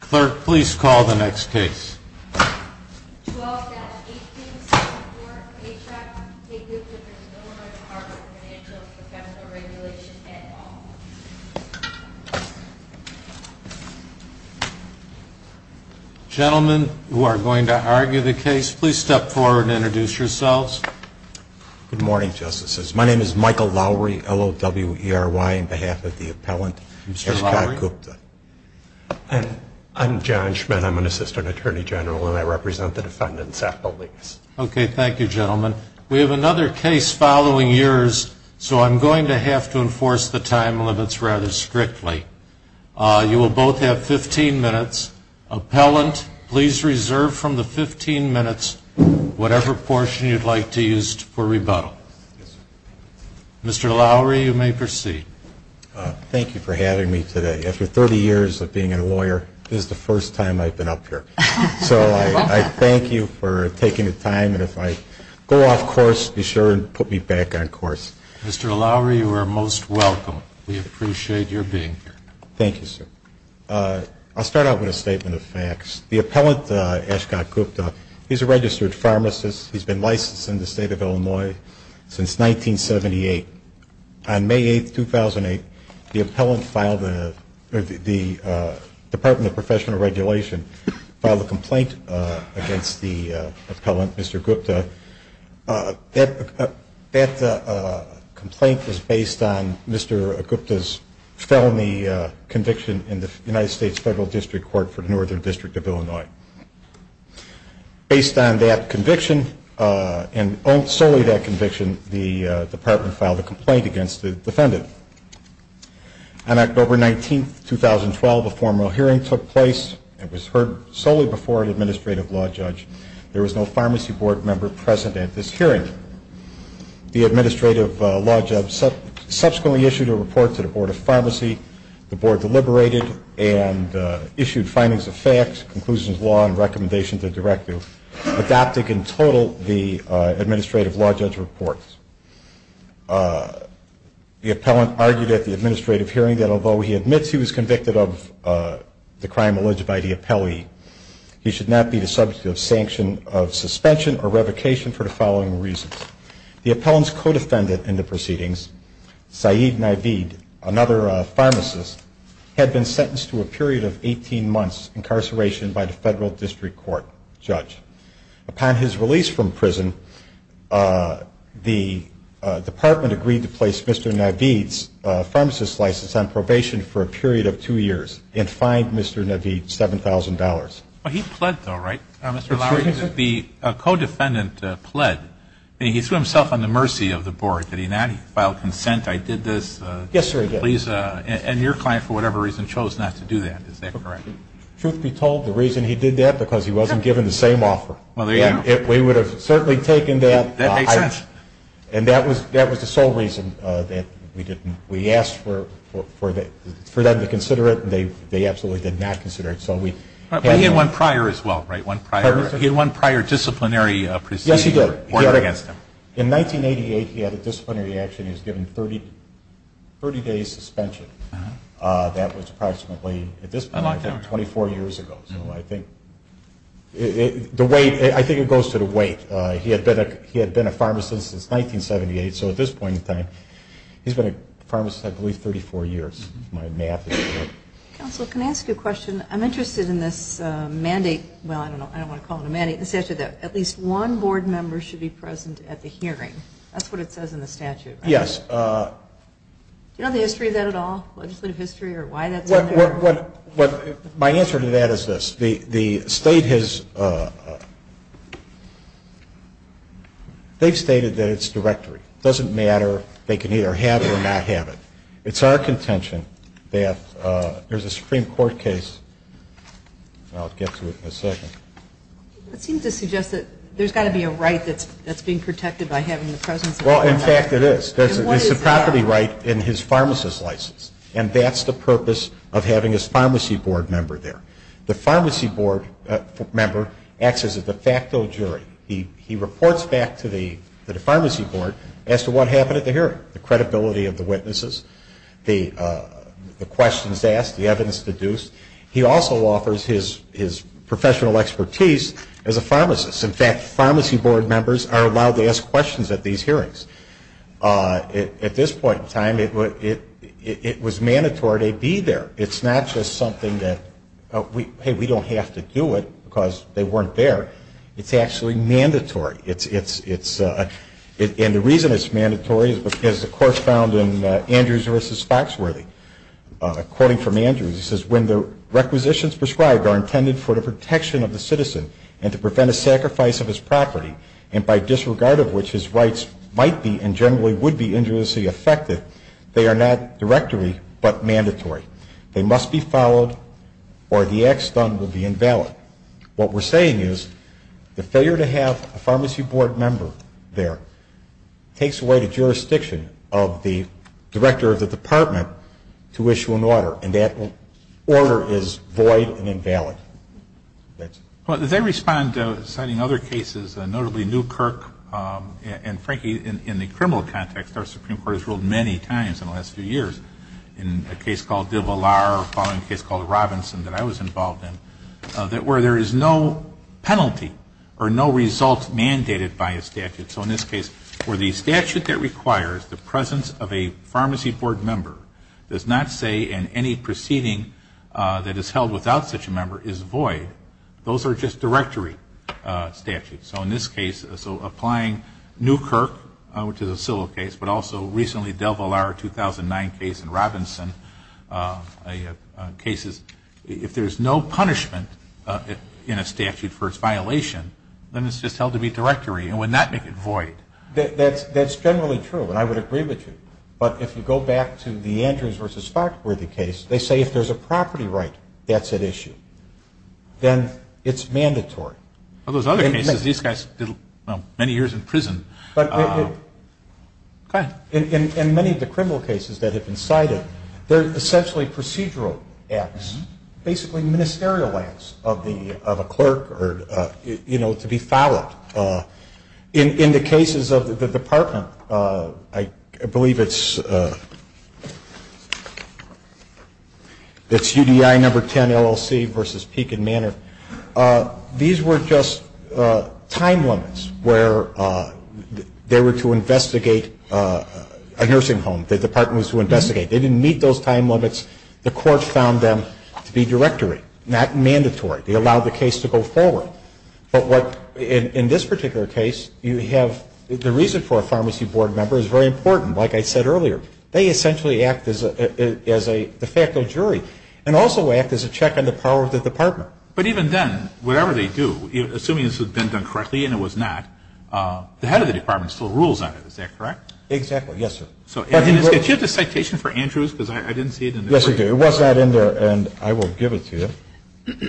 Clerk, please call the next case. 12-18-74, Paycheck, K. Gupta v. Miller, Department of Financial and Professional Regulation, et al. Gentlemen who are going to argue the case, please step forward and introduce yourselves. Good morning, Justices. My name is Michael Lowry, L-O-W-E-R-Y, on behalf of the appellant, Mr. K. Gupta. And I'm John Schmitt. I'm an Assistant Attorney General, and I represent the defendants' appellate. Okay. Thank you, gentlemen. We have another case following yours, so I'm going to have to enforce the time limits rather strictly. You will both have 15 minutes. Appellant, please reserve from the 15 minutes whatever portion you'd like to use for rebuttal. Yes, sir. Mr. Lowry, you may proceed. Thank you for having me today. After 30 years of being a lawyer, this is the first time I've been up here. So I thank you for taking the time. And if I go off course, be sure and put me back on course. Mr. Lowry, you are most welcome. We appreciate your being here. Thank you, sir. I'll start out with a statement of facts. The appellant, Ashcott Gupta, he's a registered pharmacist. He's been licensed in the State of Illinois since 1978. On May 8, 2008, the Department of Professional Regulation filed a complaint against the appellant, Mr. Gupta. That complaint was based on Mr. Gupta's felony conviction in the United States Federal District Court for the Northern District of Illinois. Based on that conviction and solely that conviction, the department filed a complaint against the defendant. On October 19, 2012, a formal hearing took place. It was heard solely before an administrative law judge. There was no pharmacy board member present at this hearing. The administrative law judge subsequently issued a report to the Board of Pharmacy. The board deliberated and issued findings of facts, conclusions of law, and recommendations of directive, adopting in total the administrative law judge report. The appellant argued at the administrative hearing that although he admits he was convicted of the crime alleged by the appellee, he should not be the subject of sanction of suspension or revocation for the following reasons. The appellant's co-defendant in the proceedings, Saeed Naveed, another pharmacist, had been sentenced to a period of 18 months incarceration by the Federal District Court judge. Upon his release from prison, the department agreed to place Mr. Naveed's pharmacist's license on probation for a period of two years and fined Mr. Naveed $7,000. Well, he pled, though, right, Mr. Lowry? The co-defendant pled. He threw himself on the mercy of the board. Did he not? He filed consent. I did this. Yes, sir, I did. And your client, for whatever reason, chose not to do that. Is that correct? Truth be told, the reason he did that, because he wasn't given the same offer. Well, there you go. We would have certainly taken that. That makes sense. And that was the sole reason that we didn't. We asked for them to consider it. They absolutely did not consider it. But he had one prior as well, right? He had one prior disciplinary proceeding. Yes, he did. He worked against them. In 1988, he had a disciplinary action. He was given a 30-day suspension. That was approximately, at this point, 24 years ago. So I think it goes to the weight. He had been a pharmacist since 1978, so at this point in time, he's been a pharmacist, I believe, 34 years. My math is correct. Counsel, can I ask you a question? I'm interested in this mandate. Well, I don't know. I don't want to call it a mandate. It says that at least one board member should be present at the hearing. That's what it says in the statute, right? Yes. Do you know the history of that at all? Legislative history or why that's out there? My answer to that is this. The state has stated that it's directory. It doesn't matter. They can either have it or not have it. It's our contention that there's a Supreme Court case. I'll get to it in a second. It seems to suggest that there's got to be a right that's being protected by having the presence of a board member. Well, in fact, it is. There's a property right in his pharmacist license, and that's the purpose of having his pharmacy board member there. The pharmacy board member acts as a de facto jury. He reports back to the pharmacy board as to what happened at the hearing, the credibility of the witnesses, the questions asked, the evidence deduced. He also offers his professional expertise as a pharmacist. In fact, pharmacy board members are allowed to ask questions at these hearings. At this point in time, it was mandatory they be there. It's not just something that, hey, we don't have to do it because they weren't there. It's actually mandatory. And the reason it's mandatory is because the court found in Andrews v. Foxworthy, quoting from Andrews, it says, when the requisitions prescribed are intended for the protection of the citizen and to prevent a sacrifice of his property and by disregard of which his rights might be and generally would be injuriously affected, they are not directory but mandatory. They must be followed or the acts done will be invalid. What we're saying is the failure to have a pharmacy board member there takes away the jurisdiction of the director of the department to issue an order, and that order is void and invalid. Well, as I respond to citing other cases, notably Newkirk and, frankly, in the criminal context, our Supreme Court has ruled many times in the last few years in a case called Devalar or a following case called Robinson that I was involved in, that where there is no penalty or no result mandated by a statute, so in this case where the statute that requires the presence of a pharmacy board member does not say and any proceeding that is held without such a member is void, those are just directory statutes. So in this case, so applying Newkirk, which is a civil case, but also recently Devalar 2009 case in Robinson, cases, if there is no punishment in a statute for its violation, then it's just held to be directory and would not make it void. That's generally true, and I would agree with you. But if you go back to the Andrews v. Spock worthy case, they say if there's a property right that's at issue, then it's mandatory. Well, there's other cases. These guys did many years in prison. But in many of the criminal cases that have been cited, they're essentially procedural acts, basically ministerial acts of a clerk or, you know, to be followed. In the cases of the department, I believe it's UDI number 10 LLC v. Peek and Manor. These were just time limits where they were to investigate a nursing home. The department was to investigate. They didn't meet those time limits. The court found them to be directory, not mandatory. They allowed the case to go forward. But what in this particular case, you have the reason for a pharmacy board member is very important. Like I said earlier, they essentially act as a de facto jury and also act as a check on the power of the department. But even then, whatever they do, assuming this has been done correctly and it was not, the head of the department still rules on it. Is that correct? Exactly. Yes, sir. Do you have the citation for Andrews? Because I didn't see it in the brief. Yes, I do. It was not in there, and I will give it to you.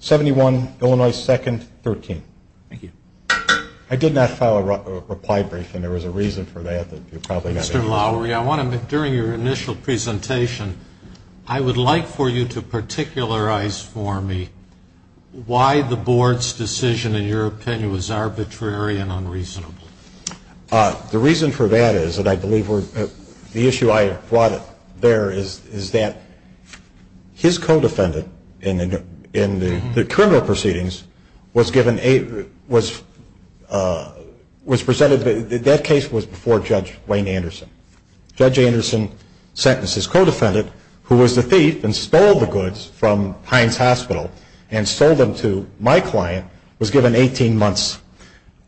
71, Illinois 2nd, 13. Thank you. I did not file a reply brief, and there was a reason for that. Mr. Lowery, I want to make, during your initial presentation, I would like for you to particularize for me why the board's decision, in your opinion, was arbitrary and unreasonable. The reason for that is, and I believe the issue I brought there is that his co-defendant in the criminal proceedings was presented, that case was before Judge Wayne Anderson. Judge Anderson's sentence, his co-defendant, who was the thief and stole the goods from Heinz Hospital and sold them to my client, was given 18 months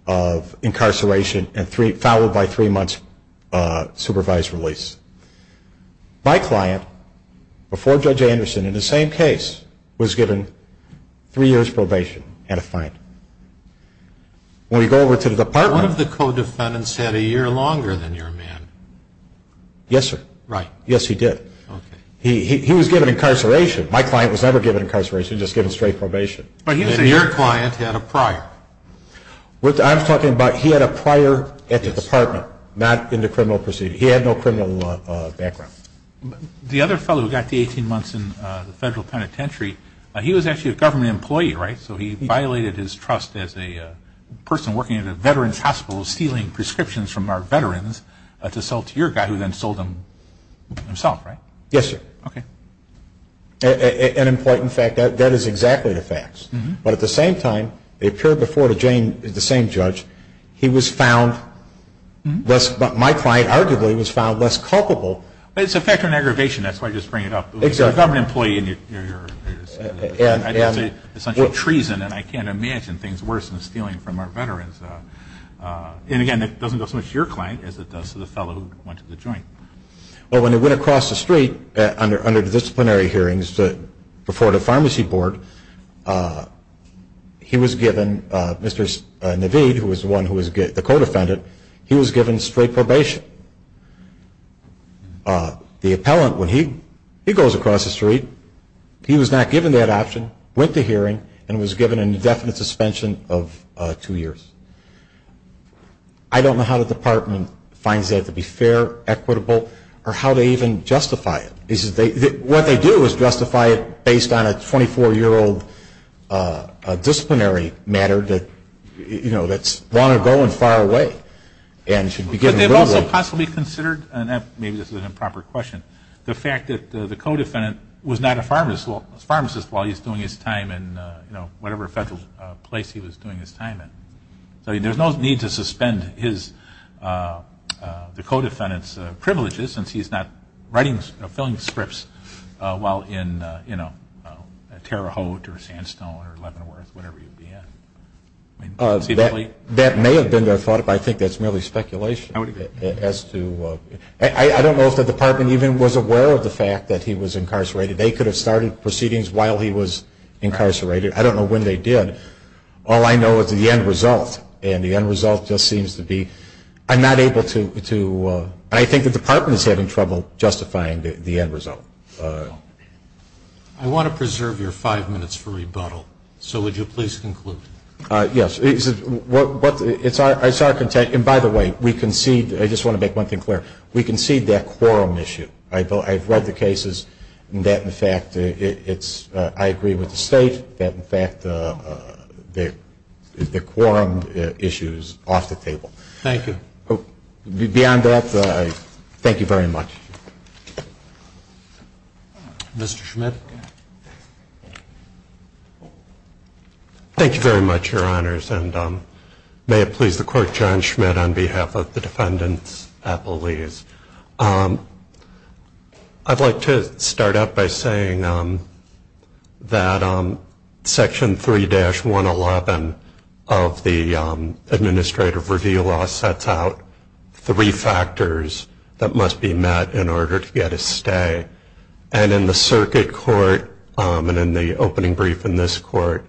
of incarceration, followed by three months supervised release. My client, before Judge Anderson, in the same case, was given three years probation and a fine. When we go over to the department. One of the co-defendants had a year longer than your man. Yes, sir. Right. Yes, he did. Okay. He was given incarceration. My client was never given incarceration, just given straight probation. But your client had a prior. I'm talking about he had a prior at the department, not in the criminal proceeding. He had no criminal background. The other fellow who got the 18 months in the federal penitentiary, he was actually a government employee, right? So he violated his trust as a person working at a veteran's hospital, stealing prescriptions from our veterans to sell to your guy, who then sold them himself, right? Yes, sir. Okay. An important fact. That is exactly the facts. But at the same time, they appeared before the same judge. He was found less, my client, arguably, was found less culpable. It's a factor in aggravation. That's why I just bring it up. Exactly. You're a government employee and you're essentially treason, and I can't imagine things worse than stealing from our veterans. And, again, it doesn't go so much to your client as it does to the fellow who went to the joint. Well, when they went across the street under disciplinary hearings before the pharmacy board, he was given, Mr. Navid, who was the one who was the co-defendant, he was given straight probation. The appellant, when he goes across the street, he was not given that option, went to hearing, and was given an indefinite suspension of two years. I don't know how the department finds that to be fair, equitable, or how they even justify it. What they do is justify it based on a 24-year-old disciplinary matter that's long ago and far away. But they've also possibly considered, and maybe this is an improper question, the fact that the co-defendant was not a pharmacist while he was doing his time in whatever federal place he was doing his time in. So there's no need to suspend the co-defendant's privileges since he's not writing, filling scripts while in Terre Haute or Sandstone or Leavenworth, whatever you'd be in. That may have been their thought, but I think that's merely speculation. I don't know if the department even was aware of the fact that he was incarcerated. They could have started proceedings while he was incarcerated. I don't know when they did. All I know is the end result, and the end result just seems to be, I'm not able to, I think the department is having trouble justifying the end result. I want to preserve your five minutes for rebuttal, so would you please conclude? Yes. It's our intent, and by the way, we concede, I just want to make one thing clear, we concede that quorum issue. I've read the cases, and that, in fact, I agree with the State, that, in fact, the quorum issue is off the table. Thank you. Beyond that, thank you very much. Mr. Schmidt. Thank you very much, Your Honors, and may it please the Court, I'm John Schmidt on behalf of the Defendant's Appellees. I'd like to start out by saying that Section 3-111 of the Administrative Review Law sets out three factors that must be met in order to get a stay, and in the circuit court and in the opening brief in this court,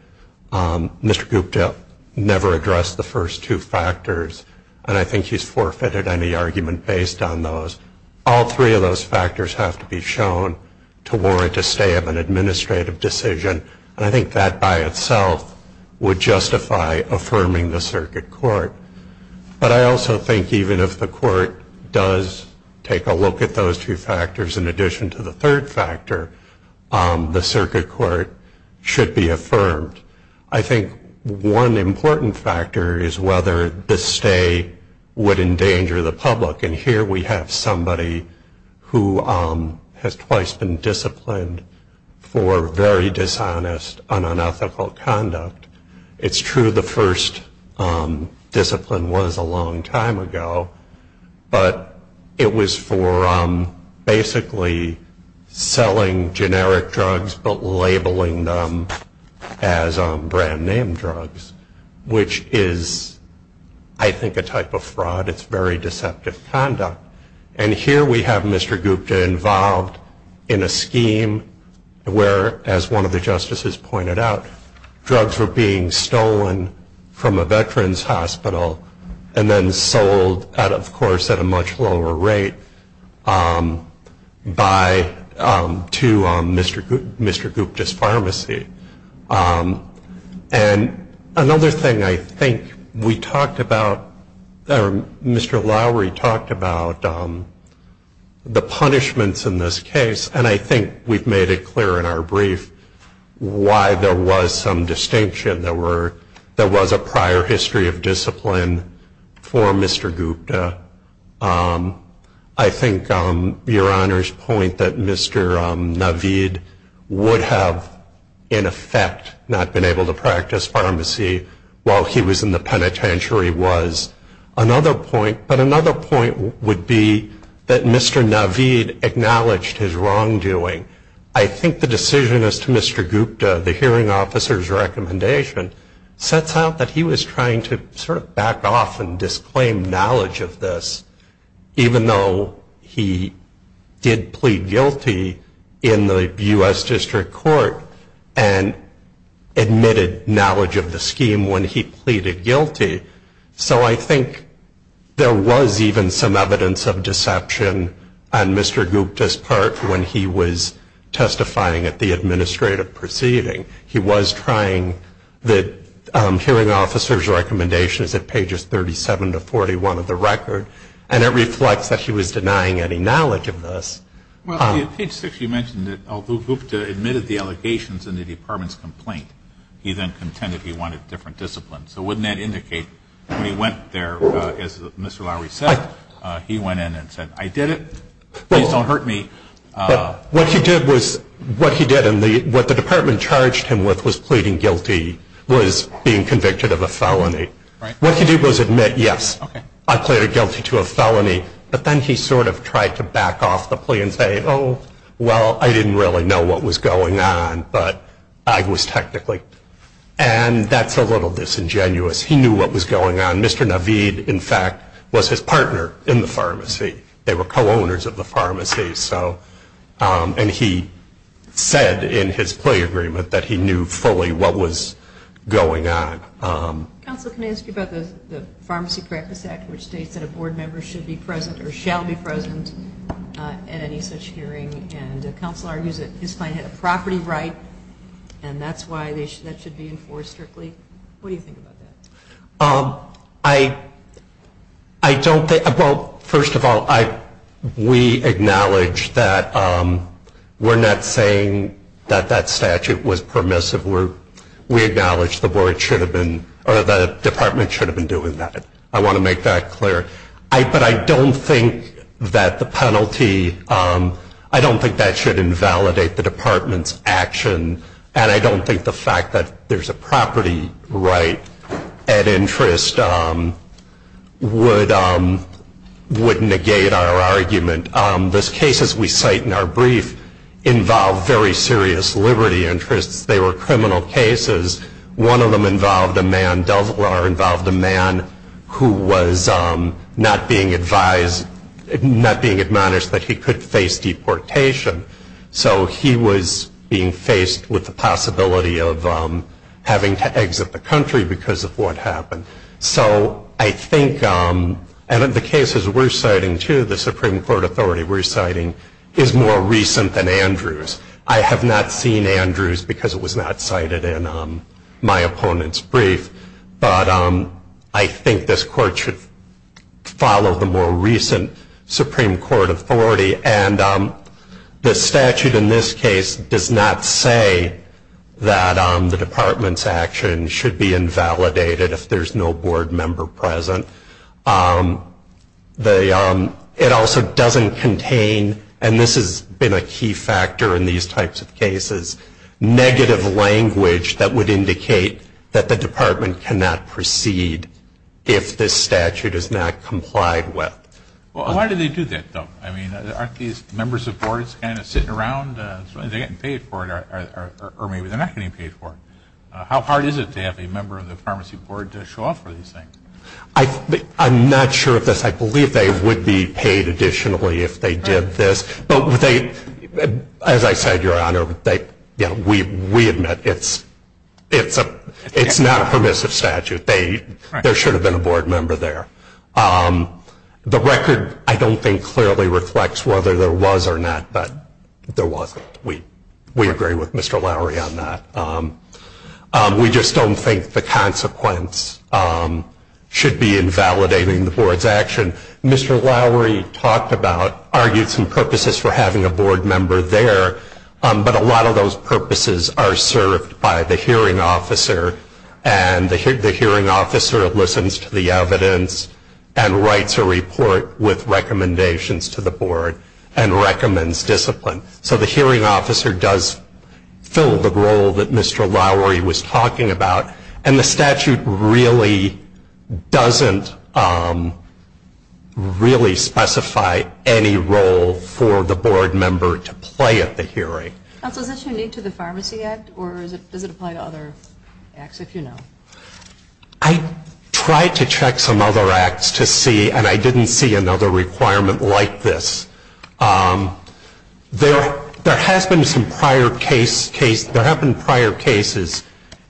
Mr. Gupta never addressed the first two factors, and I think he's forfeited any argument based on those. All three of those factors have to be shown to warrant a stay of an administrative decision, and I think that by itself would justify affirming the circuit court. But I also think even if the court does take a look at those two factors in addition to the third factor, the circuit court should be affirmed. I think one important factor is whether the stay would endanger the public, and here we have somebody who has twice been disciplined for very dishonest and unethical conduct. It's true the first discipline was a long time ago, but it was for basically selling generic drugs but labeling them as brand-name drugs, which is, I think, a type of fraud. It's very deceptive conduct. And here we have Mr. Gupta involved in a scheme where, as one of the justices pointed out, drugs were being stolen from a veterans hospital and then sold, of course, at a much lower rate to Mr. Gupta's pharmacy. And another thing I think we talked about, or Mr. Lowery talked about, the punishments in this case, and I think we've made it clear in our brief why there was some distinction. There was a prior history of discipline for Mr. Gupta. I think Your Honor's point that Mr. Naveed would have, in effect, not been able to practice pharmacy while he was in the penitentiary was another point. But another point would be that Mr. Naveed acknowledged his wrongdoing. I think the decision as to Mr. Gupta, the hearing officer's recommendation, sets out that he was trying to sort of back off and disclaim knowledge of this, even though he did plead guilty in the U.S. District Court and admitted knowledge of the scheme when he pleaded guilty. So I think there was even some evidence of deception on Mr. Gupta's part when he was testifying at the administrative proceeding. He was trying the hearing officer's recommendations at pages 37 to 41 of the record, and it reflects that he was denying any knowledge of this. Page 6 you mentioned that although Gupta admitted the allegations in the department's complaint, he then contended he wanted different disciplines. So wouldn't that indicate when he went there, as Mr. Lowery said, he went in and said, I did it, please don't hurt me. What he did was what the department charged him with was pleading guilty, was being convicted of a felony. What he did was admit, yes, I pleaded guilty to a felony, but then he sort of tried to back off the plea and say, oh, well, I didn't really know what was going on, but I was technically. And that's a little disingenuous. He knew what was going on. Mr. Navid, in fact, was his partner in the pharmacy. They were co-owners of the pharmacy, and he said in his plea agreement that he knew fully what was going on. Counsel, can I ask you about the Pharmacy Practice Act, which states that a board member should be present or shall be present at any such hearing, and counsel argues that his client had a property right, and that's why that should be enforced strictly. What do you think about that? I don't think. Well, first of all, we acknowledge that we're not saying that that statute was permissive. We acknowledge the board should have been or the department should have been doing that. I want to make that clear. But I don't think that the penalty, I don't think that should invalidate the department's action, and I don't think the fact that there's a property right at interest would negate our argument. Those cases we cite in our brief involve very serious liberty interests. They were criminal cases. One of them involved a man, Delvar, involved a man who was not being advised, not being admonished that he could face deportation. So he was being faced with the possibility of having to exit the country because of what happened. So I think, and in the cases we're citing too, the Supreme Court authority we're citing, is more recent than Andrews. I have not seen Andrews because it was not cited in my opponent's brief, but I think this court should follow the more recent Supreme Court authority. And the statute in this case does not say that the department's action should be invalidated if there's no board member present. It also doesn't contain, and this has been a key factor in these types of cases, negative language that would indicate that the department cannot proceed if this statute is not complied with. Well, why do they do that, though? I mean, aren't these members of boards kind of sitting around as long as they're getting paid for it, or maybe they're not getting paid for it? How hard is it to have a member of the pharmacy board to show up for these things? I'm not sure of this. I believe they would be paid additionally if they did this. But as I said, Your Honor, we admit it's not a permissive statute. There should have been a board member there. The record, I don't think, clearly reflects whether there was or not, but there wasn't. We agree with Mr. Lowery on that. We just don't think the consequence should be invalidating the board's action. Mr. Lowery talked about, argued some purposes for having a board member there, but a lot of those purposes are served by the hearing officer, and the hearing officer listens to the evidence and writes a report with recommendations to the board and recommends discipline. So the hearing officer does fill the role that Mr. Lowery was talking about, and the statute really doesn't really specify any role for the board member to play at the hearing. Counsel, is this unique to the Pharmacy Act, or does it apply to other acts, if you know? I tried to check some other acts to see, and I didn't see another requirement like this. There have been some prior cases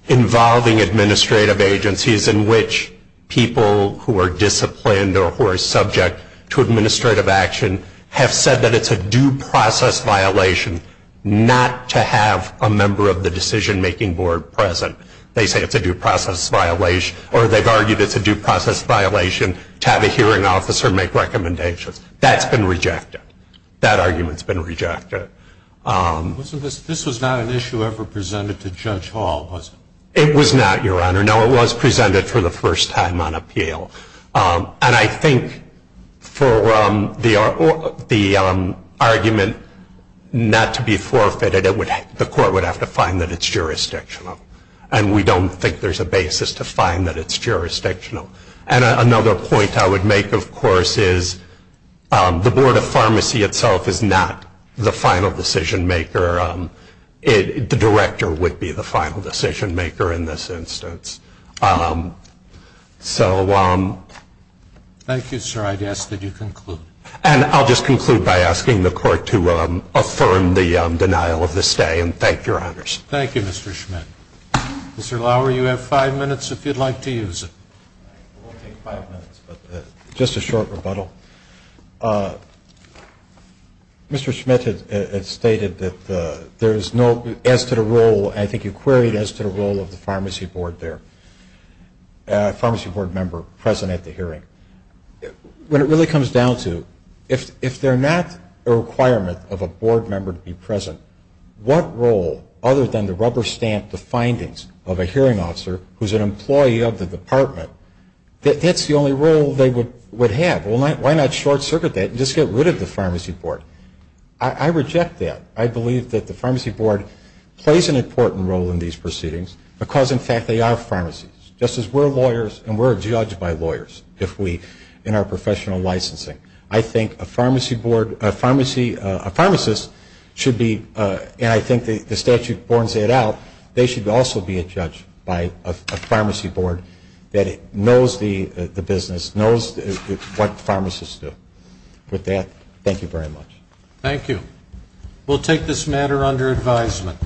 involving administrative agencies in which people who are disciplined or who are subject to administrative action have said that it's a due process violation not to have a member of the decision-making board present. They say it's a due process violation, or they've argued it's a due process violation to have a hearing officer make recommendations. That's been rejected. That argument's been rejected. This was not an issue ever presented to Judge Hall, was it? It was not, Your Honor. No, it was presented for the first time on appeal. And I think for the argument not to be forfeited, the court would have to find that it's jurisdictional, and we don't think there's a basis to find that it's jurisdictional. And another point I would make, of course, is the Board of Pharmacy itself is not the final decision-maker. The director would be the final decision-maker in this instance. Thank you, sir. I'd ask that you conclude. And I'll just conclude by asking the court to affirm the denial of the stay, and thank you, Your Honors. Thank you, Mr. Schmidt. Mr. Lauer, you have five minutes if you'd like to use it. I won't take five minutes, but just a short rebuttal. Mr. Schmidt had stated that there is no, as to the role, and I think you queried as to the role of the pharmacy board there, pharmacy board member present at the hearing. What it really comes down to, if they're not a requirement of a board member to be present, what role, other than to rubber stamp the findings of a hearing officer who's an employee of the department, that's the only role they would have. Why not short-circuit that and just get rid of the pharmacy board? I reject that. I believe that the pharmacy board plays an important role in these proceedings because, in fact, they are pharmacies, just as we're lawyers, and we're judged by lawyers in our professional licensing. I think a pharmacy board, a pharmacist should be, and I think the statute borns that out, they should also be a judge by a pharmacy board that knows the business, knows what pharmacists do. With that, thank you very much. Thank you. We'll take this matter under advisement.